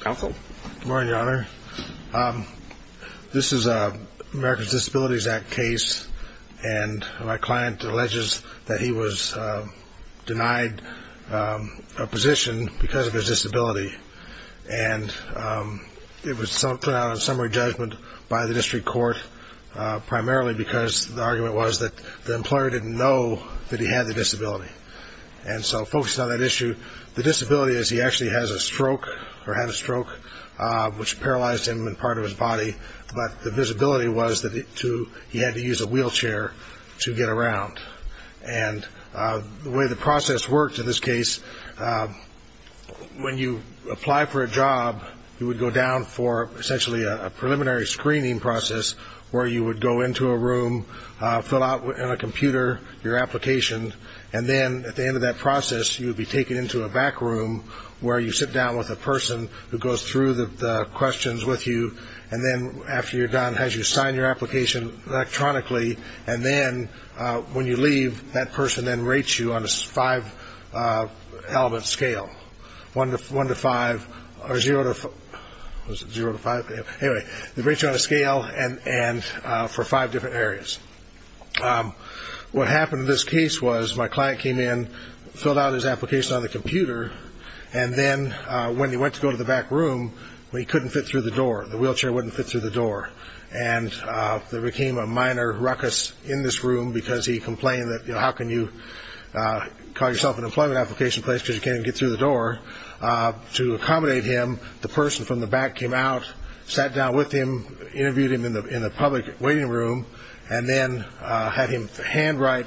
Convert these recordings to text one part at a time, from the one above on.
Good morning Your Honor. This is an American Disabilities Act case and my client alleges that he was denied a position because of his disability and it was put out on summary judgment by the district court primarily because the argument was that the employer didn't know that he had the disability. And so focusing on that issue, the disability is he actually has a stroke or had a stroke which paralyzed him and part of his body but the disability was that he had to use a wheelchair to get around. And the way the process worked in this case, when you apply for a job, you would go down for essentially a preliminary screening process where you would go into a room and fill out on a computer your application. And then at the end of that process, you would be taken into a back room where you sit down with a person who goes through the questions with you. And then after you're done, has you sign your application electronically. And then when you leave, that person then rates you on a five-element scale, one to five or zero to five. Anyway, they rate you on a scale for five different areas. What happened in this case was my client came in, filled out his application on the computer, and then when he went to go to the back room, he couldn't fit through the door. The wheelchair wouldn't fit through the door. And there became a minor ruckus in this room because he complained that, you know, how can you call yourself an employment application place because you can't even get through the door? To accommodate him, the person from the back came out, sat down with him, interviewed him in the public waiting room, and then had him handwrite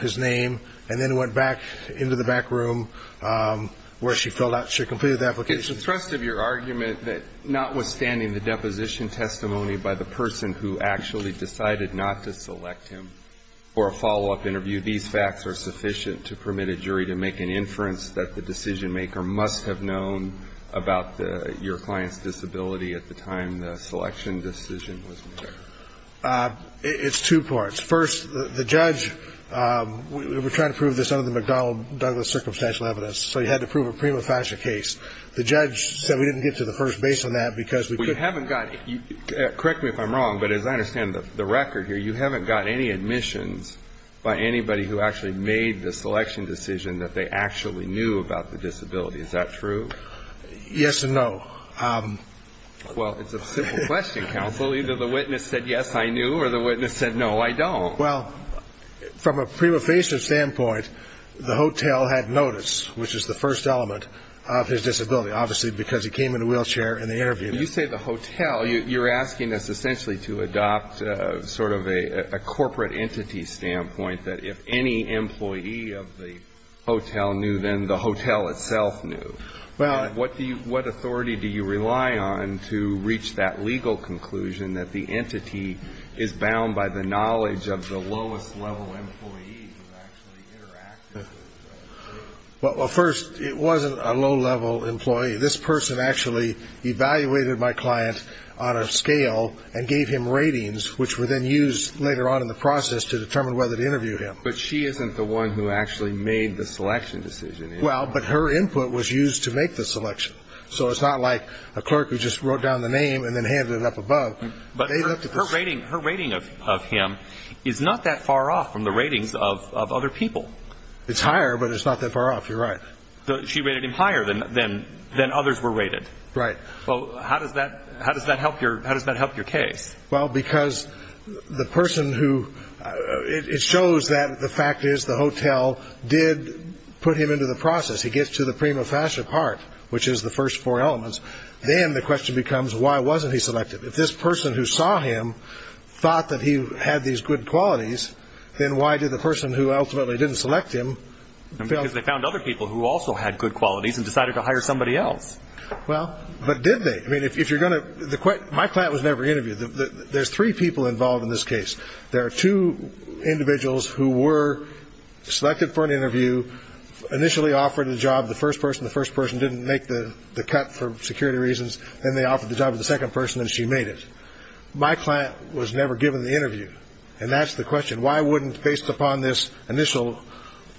his name. And then went back into the back room where she filled out, she completed the application. It's the thrust of your argument that notwithstanding the deposition testimony by the person who actually decided not to select him for a follow-up interview, these facts are sufficient to permit a jury to make an inference that the decision-maker must have known about your client's disability at the time the selection decision was made. It's two parts. First, the judge, we're trying to prove this under the McDonnell Douglas circumstantial evidence, so you had to prove a prima facie case. The judge said we didn't get to the first base on that because we couldn't. Correct me if I'm wrong, but as I understand the record here, you haven't got any admissions by anybody who actually made the selection decision that they actually knew about the disability. Is that true? Yes and no. Well, it's a simple question, counsel. Either the witness said, yes, I knew, or the witness said, no, I don't. Well, from a prima facie standpoint, the hotel had noticed, which is the first element of his disability, obviously because he came in a wheelchair in the interview. When you say the hotel, you're asking us essentially to adopt sort of a corporate entity standpoint that if any employee of the hotel knew, then the hotel itself knew. What authority do you rely on to reach that legal conclusion that the entity is bound by the knowledge of the lowest-level employee who actually interacted with that person? Well, first, it wasn't a low-level employee. This person actually evaluated my client on a scale and gave him ratings, which were then used later on in the process to determine whether to interview him. But she isn't the one who actually made the selection decision. Well, but her input was used to make the selection. So it's not like a clerk who just wrote down the name and then handed it up above. But her rating of him is not that far off from the ratings of other people. It's higher, but it's not that far off. You're right. She rated him higher than others were rated. Right. Well, how does that help your case? Well, because the person who – it shows that the fact is the hotel did put him into the process. He gets to the prima facie part, which is the first four elements. Then the question becomes, why wasn't he selected? If this person who saw him thought that he had these good qualities, then why did the person who ultimately didn't select him – Because they found other people who also had good qualities and decided to hire somebody else. Well, but did they? I mean, if you're going to – my client was never interviewed. There's three people involved in this case. There are two individuals who were selected for an interview, initially offered the job, the first person. The first person didn't make the cut for security reasons. Then they offered the job to the second person, and she made it. My client was never given the interview, and that's the question. And why wouldn't, based upon this initial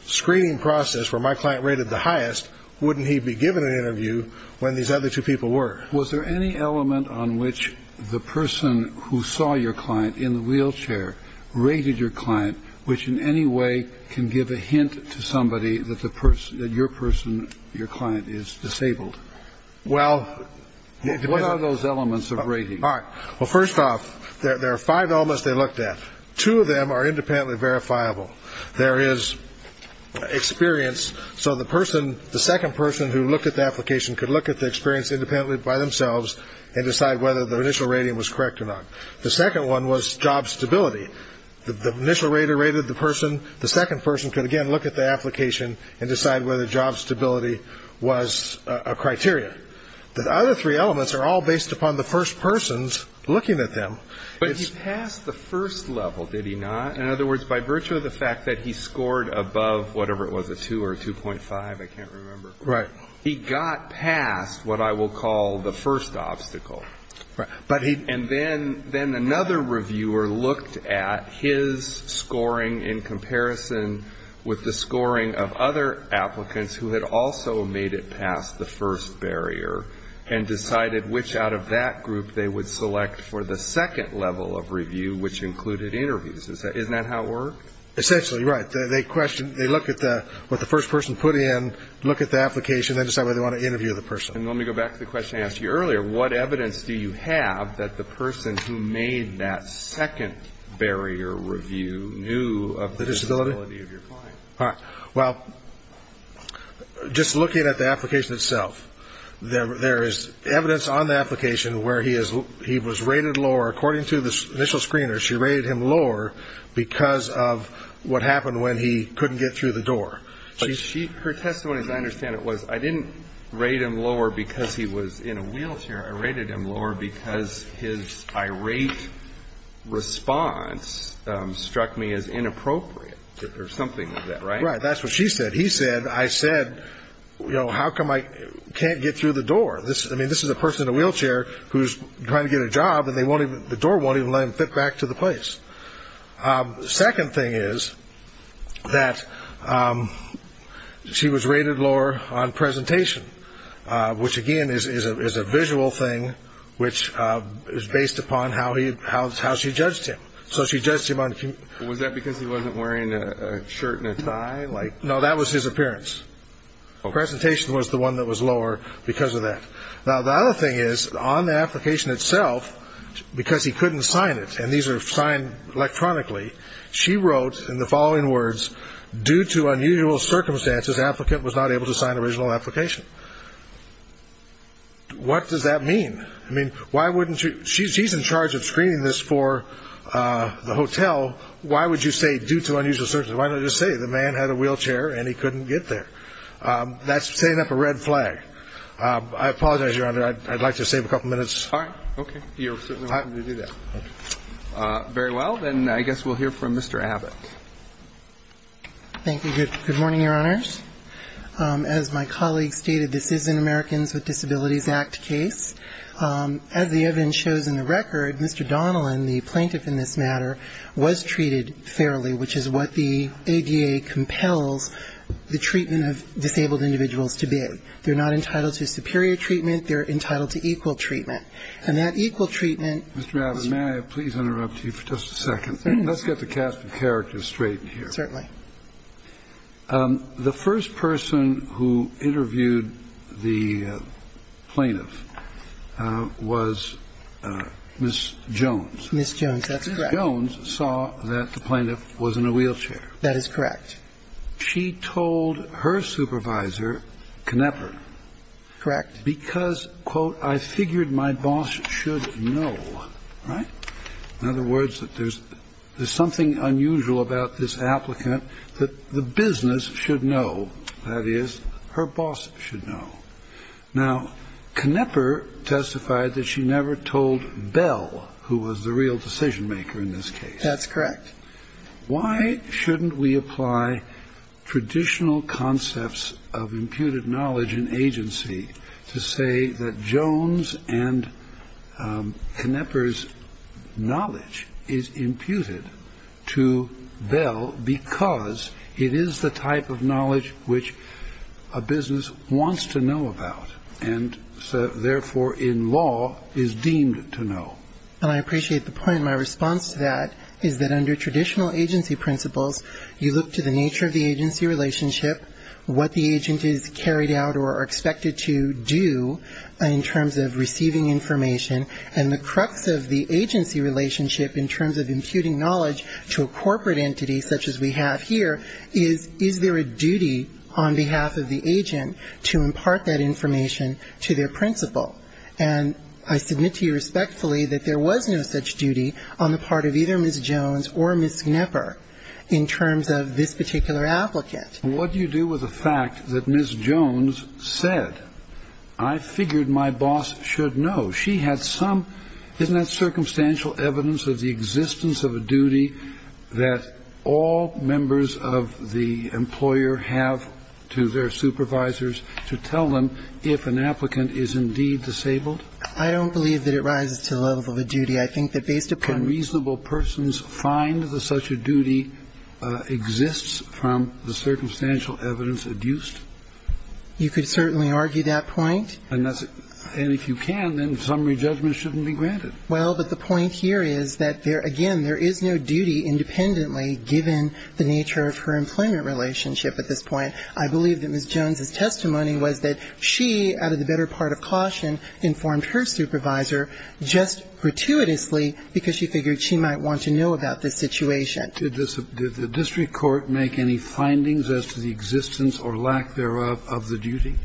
screening process where my client rated the highest, wouldn't he be given an interview when these other two people were? Was there any element on which the person who saw your client in the wheelchair rated your client, which in any way can give a hint to somebody that your person, your client, is disabled? Well – What are those elements of rating? All right. Well, first off, there are five elements they looked at. Two of them are independently verifiable. There is experience. So the person, the second person who looked at the application, could look at the experience independently by themselves and decide whether the initial rating was correct or not. The second one was job stability. The initial rater rated the person. The second person could, again, look at the application and decide whether job stability was a criteria. The other three elements are all based upon the first person's looking at them. But he passed the first level, did he not? In other words, by virtue of the fact that he scored above whatever it was, a 2 or a 2.5, I can't remember. Right. He got past what I will call the first obstacle. Right. And then another reviewer looked at his scoring in comparison with the scoring of other applicants who had also made it past the first barrier and decided which out of that group they would select for the second level of review, which included interviews. Isn't that how it worked? Essentially, right. They question, they look at what the first person put in, look at the application, then decide whether they want to interview the person. And let me go back to the question I asked you earlier. What evidence do you have that the person who made that second barrier review knew of the disability of your client? Well, just looking at the application itself, there is evidence on the application where he was rated lower. According to the initial screener, she rated him lower because of what happened when he couldn't get through the door. Her testimony, as I understand it, was I didn't rate him lower because he was in a wheelchair. I rated him lower because his irate response struck me as inappropriate or something like that. Right. That's what she said. He said, I said, you know, how come I can't get through the door? I mean, this is a person in a wheelchair who's trying to get a job, and the door won't even let him fit back to the place. The second thing is that she was rated lower on presentation, which, again, is a visual thing which is based upon how she judged him. So she judged him on... Was that because he wasn't wearing a shirt and a tie? No, that was his appearance. Presentation was the one that was lower because of that. Now, the other thing is on the application itself, because he couldn't sign it, and these are signed electronically, she wrote in the following words, due to unusual circumstances, applicant was not able to sign original application. What does that mean? I mean, why wouldn't you? She's in charge of screening this for the hotel. Why would you say due to unusual circumstances? Why not just say the man had a wheelchair and he couldn't get there? That's setting up a red flag. I apologize, Your Honor, I'd like to save a couple minutes. All right. Okay. You're certainly welcome to do that. Very well. Then I guess we'll hear from Mr. Abbott. Thank you. Good morning, Your Honors. As my colleague stated, this is an Americans with Disabilities Act case. As the evidence shows in the record, Mr. Donilon, the plaintiff in this matter, was treated fairly, which is what the ADA compels the treatment of disabled individuals to be. They're not entitled to superior treatment. They're entitled to equal treatment. And that equal treatment was used. Mr. Abbott, may I please interrupt you for just a second? Let's get the cast of characters straight here. Certainly. The first person who interviewed the plaintiff was Ms. Jones. Ms. Jones. That's correct. Ms. Jones saw that the plaintiff was in a wheelchair. That is correct. She told her supervisor, Knapper. Correct. Because, quote, I figured my boss should know. Right? In other words, that there's something unusual about this applicant that the business should know. That is, her boss should know. Now, Knapper testified that she never told Bell, who was the real decision maker in this case. That's correct. Why shouldn't we apply traditional concepts of imputed knowledge and agency to say that Jones and Knapper's knowledge is imputed to Bell because it is the type of knowledge which a business wants to know about and, therefore, in law is deemed to know? And I appreciate the point. My response to that is that under traditional agency principles, you look to the nature of the agency relationship, what the agent is carried out or expected to do in terms of receiving information, and the crux of the agency relationship in terms of imputing knowledge to a corporate entity such as we have here is, is there a duty on behalf of the agent to impart that information to their principal? And I submit to you respectfully that there was no such duty on the part of either Ms. Jones or Ms. Knapper in terms of this particular applicant. What do you do with the fact that Ms. Jones said, I figured my boss should know? She had some, isn't that circumstantial evidence of the existence of a duty that all members of the employer have to their supervisors to tell them if an applicant is indeed disabled? I don't believe that it rises to the level of a duty. I think that based upon reasonable persons find that such a duty exists from the circumstantial evidence adduced. You could certainly argue that point. And if you can, then summary judgment shouldn't be granted. Well, but the point here is that there, again, there is no duty independently given the nature of her employment relationship at this point. I believe that Ms. Jones' testimony was that she, out of the better part of caution, informed her supervisor just gratuitously because she figured she might want to know about this situation. Did the district court make any findings as to the existence or lack thereof of the duty?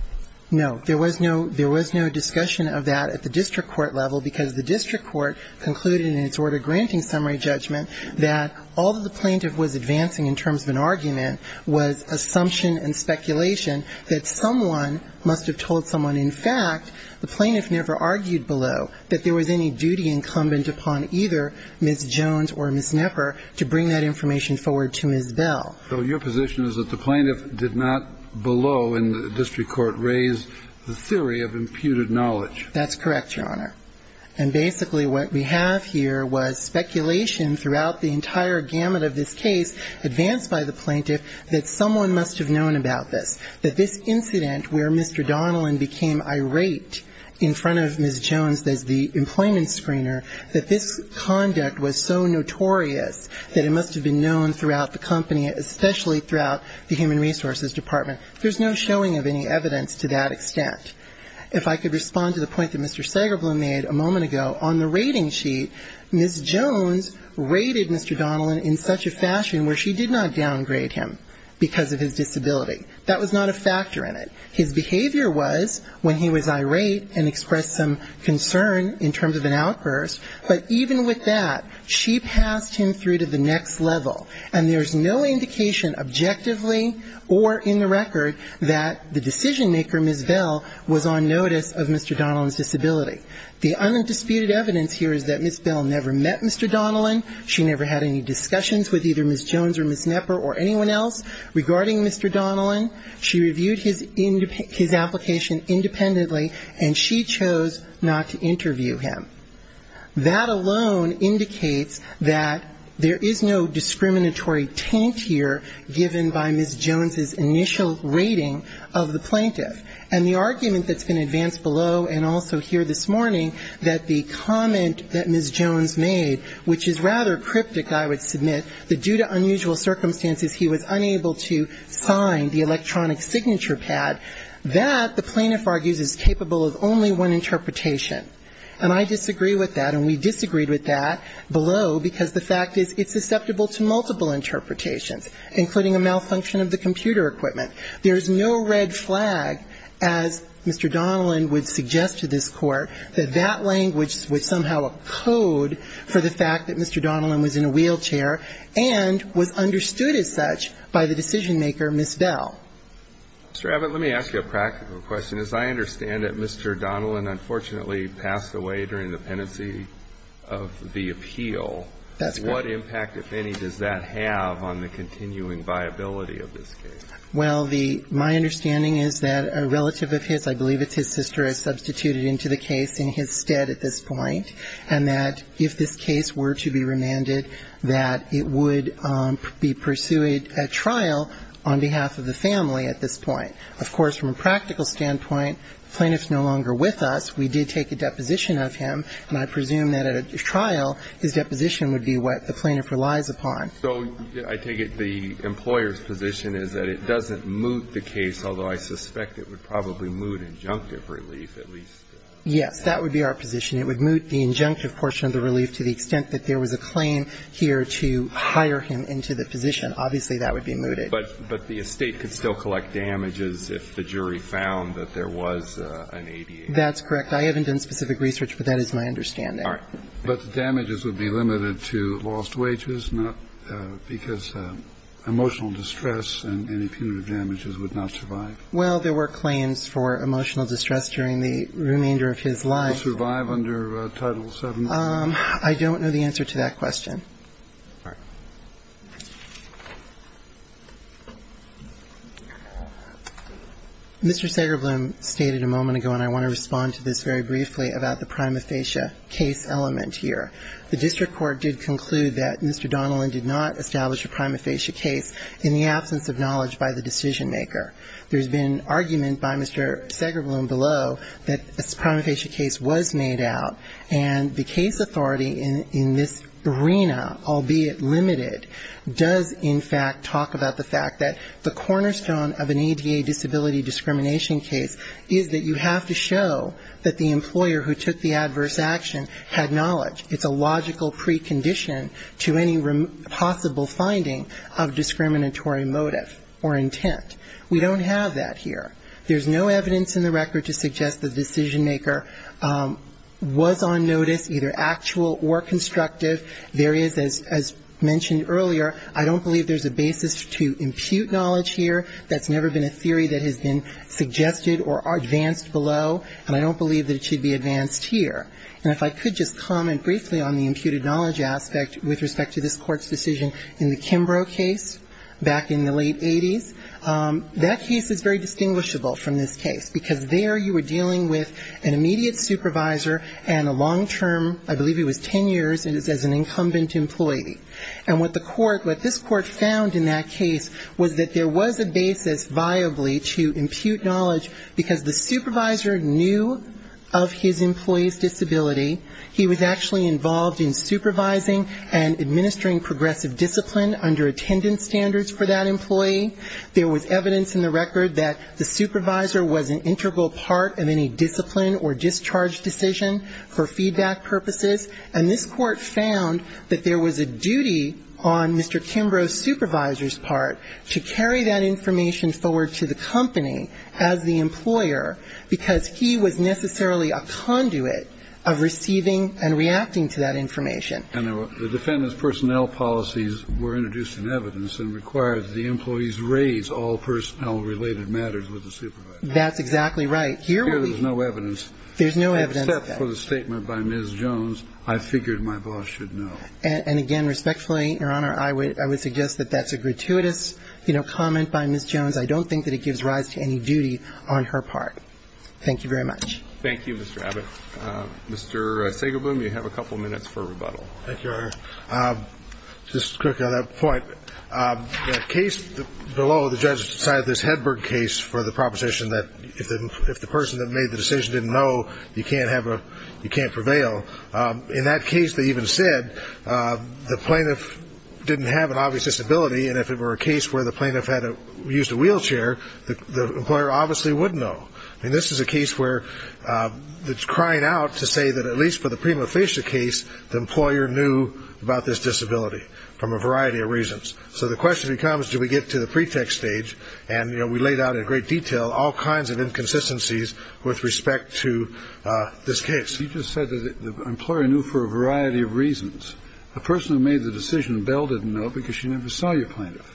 No. There was no discussion of that at the district court level because the district court concluded in its order granting summary judgment that all that the plaintiff was advancing in terms of an argument was assumption and speculation that someone must have told someone. In fact, the plaintiff never argued below that there was any duty incumbent upon either Ms. Jones or Ms. Knepper to bring that information forward to Ms. Bell. So your position is that the plaintiff did not below in the district court raise the theory of imputed knowledge? That's correct, Your Honor. And basically what we have here was speculation throughout the entire gamut of this case advanced by the plaintiff that someone must have known about this, that this incident where Mr. Donilon became irate in front of Ms. Jones as the employment screener, that this conduct was so notorious that it must have been known throughout the company, especially throughout the Human Resources Department. There's no showing of any evidence to that extent. If I could respond to the point that Mr. Sagerblum made a moment ago, on the rating sheet, Ms. Jones rated Mr. Donilon in such a fashion where she did not downgrade him because of his disability. That was not a factor in it. His behavior was when he was irate and expressed some concern in terms of an outburst, but even with that, she passed him through to the next level, and there's no indication objectively or in the record that the decision-maker, Ms. Bell, was on notice of Mr. Donilon's disability. The undisputed evidence here is that Ms. Bell never met Mr. Donilon. She never had any discussions with either Ms. Jones or Ms. Knepper or anyone else regarding Mr. Donilon. She reviewed his application independently, and she chose not to interview him. That alone indicates that there is no discriminatory taint here given by Ms. Jones's initial rating of the plaintiff. And the argument that's been advanced below and also here this morning, that the comment that Ms. Jones made, which is rather cryptic, I would submit, that due to unusual circumstances he was unable to sign the electronic signature pad, that, the plaintiff argues, is capable of only one interpretation. And I disagree with that, and we disagreed with that below because the fact is it's susceptible to multiple interpretations, including a malfunction of the computer equipment. There is no red flag, as Mr. Donilon would suggest to this Court, that that language was somehow a code for the fact that Mr. Donilon was in a wheelchair and was understood as such by the decision-maker, Ms. Bell. Mr. Abbott, let me ask you a practical question. As I understand it, Mr. Donilon unfortunately passed away during the pendency of the appeal. That's correct. What impact, if any, does that have on the continuing viability of this case? Well, the my understanding is that a relative of his, I believe it's his sister, has substituted into the case in his stead at this point, and that if this case were to be remanded, that it would be pursued at trial on behalf of the family at this point. Of course, from a practical standpoint, the plaintiff's no longer with us. We did take a deposition of him, and I presume that at a trial, his deposition would be what the plaintiff relies upon. So I take it the employer's position is that it doesn't moot the case, although I suspect it would probably moot injunctive relief at least. Yes, that would be our position. It would moot the injunctive portion of the relief to the extent that there was a claim here to hire him into the position. Obviously, that would be mooted. But the estate could still collect damages if the jury found that there was an ADA. That's correct. I haven't done specific research, but that is my understanding. All right. But the damages would be limited to lost wages, not because emotional distress and punitive damages would not survive? Well, there were claims for emotional distress during the remainder of his life. Would he survive under Title VII? I don't know the answer to that question. Mr. Segrebloom stated a moment ago, and I want to respond to this very briefly, about the prima facie case element here. The district court did conclude that Mr. Donilon did not establish a prima facie case in the absence of knowledge by the decisionmaker. There's been argument by Mr. Segrebloom below that a prima facie case was made out, and the case authority in this arena, albeit limited, does, in fact, talk about the fact that the cornerstone of an ADA disability discrimination case is that you have to show that the employer who took the adverse action had knowledge. It's a logical precondition to any possible finding of discriminatory motive or intent. We don't have that here. There's no evidence in the record to suggest the decisionmaker was on notice, either actual or constructive. There is, as mentioned earlier, I don't believe there's a basis to impute knowledge here. That's never been a theory that has been suggested or advanced below, and I don't believe that it should be advanced here. And if I could just comment briefly on the imputed knowledge aspect with respect to this court's decision in the Kimbrough case back in the late 80s, that case is very distinguishable from this case, because there you were dealing with an immediate supervisor and a long-term, I believe it was ten years, as an incumbent employee. And what the court, what this court found in that case was that there was a basis viably to impute knowledge, because the supervisor knew of his employee's discipline under attendance standards for that employee. There was evidence in the record that the supervisor was an integral part of any discipline or discharge decision for feedback purposes. And this court found that there was a duty on Mr. Kimbrough's supervisor's part to carry that information forward to the company as the employer, because he was necessarily a conduit of receiving and reacting to that information. And the defendant's personnel policies were introduced in evidence and required that the employees raise all personnel-related matters with the supervisor. That's exactly right. Here there's no evidence. There's no evidence. Except for the statement by Ms. Jones, I figured my boss should know. And again, respectfully, Your Honor, I would suggest that that's a gratuitous comment by Ms. Jones. I don't think that it gives rise to any duty on her part. Thank you very much. Thank you, Mr. Abbott. Mr. Sagerblum, you have a couple minutes for rebuttal. Thank you, Your Honor. Just quickly on that point, the case below, the judge decided this Hedberg case for the proposition that if the person that made the decision didn't know, you can't prevail. In that case, they even said the plaintiff didn't have an obvious disability, and if it were a case where the plaintiff used a wheelchair, the employer obviously would know. I mean, this is a case where it's crying out to say that at least for the disability, from a variety of reasons. So the question becomes, do we get to the pretext stage? And, you know, we laid out in great detail all kinds of inconsistencies with respect to this case. You just said that the employer knew for a variety of reasons. The person who made the decision, Bell, didn't know because she never saw your plaintiff.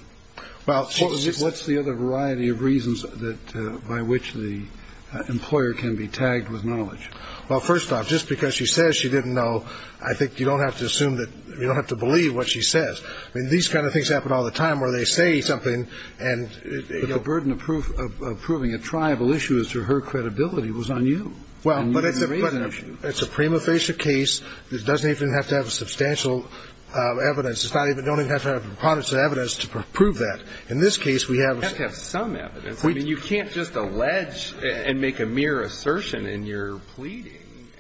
What's the other variety of reasons by which the employer can be tagged with knowledge? Well, first off, just because she says she didn't know, I think you don't have to assume that you don't have to believe what she says. I mean, these kinds of things happen all the time where they say something and you know. But the burden of proving a triable issue is to her credibility was on you. Well, but it's a prima facie case. It doesn't even have to have substantial evidence. It's not even don't even have to have a preponderance of evidence to prove that. In this case, we have. You have to have some evidence. I mean, you can't just allege and make a mere assertion in your pleading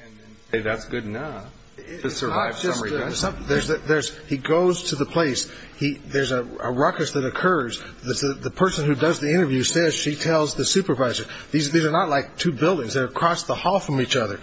and then say that's good enough. It's not just that there's he goes to the place he there's a ruckus that occurs. The person who does the interview says she tells the supervisor these are not like two buildings across the hall from each other.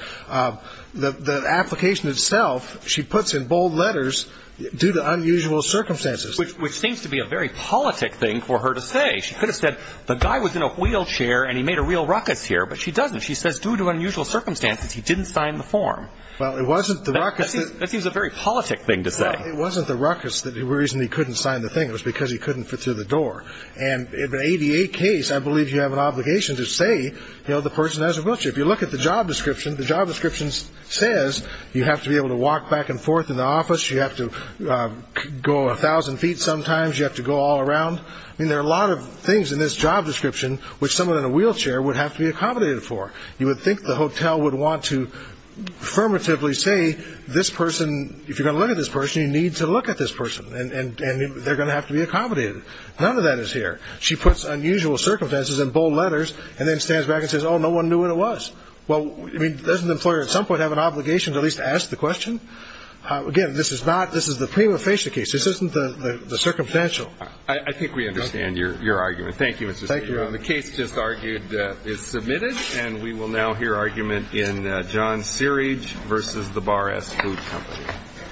The application itself, she puts in bold letters due to unusual circumstances, which seems to be a very politic thing for her to say. She could have said the guy was in a wheelchair and he made a real ruckus here. But she doesn't. She says due to unusual circumstances, he didn't sign the form. Well, it wasn't the ruckus. That seems a very politic thing to say. It wasn't the ruckus. The reason he couldn't sign the thing was because he couldn't fit through the door. And in the 88 case, I believe you have an obligation to say, you know, the person has a wheelchair. If you look at the job description, the job description says you have to be able to walk back and forth in the office. You have to go a thousand feet. Sometimes you have to go all around. I mean, there are a lot of things in this job description which someone in a wheelchair would have to be accommodated for. You would think the hotel would want to affirmatively say this person, if you're going to look at this person, you need to look at this person, and they're going to have to be accommodated. None of that is here. She puts unusual circumstances in bold letters and then stands back and says, oh, no one knew what it was. Well, I mean, doesn't the employer at some point have an obligation to at least ask the question? Again, this is not the prima facie case. This isn't the circumstantial. I think we understand your argument. Thank you, Mr. Stegman. Thank you. The case just argued is submitted, and we will now hear argument in John Searage v. The Bar Asked Food Company.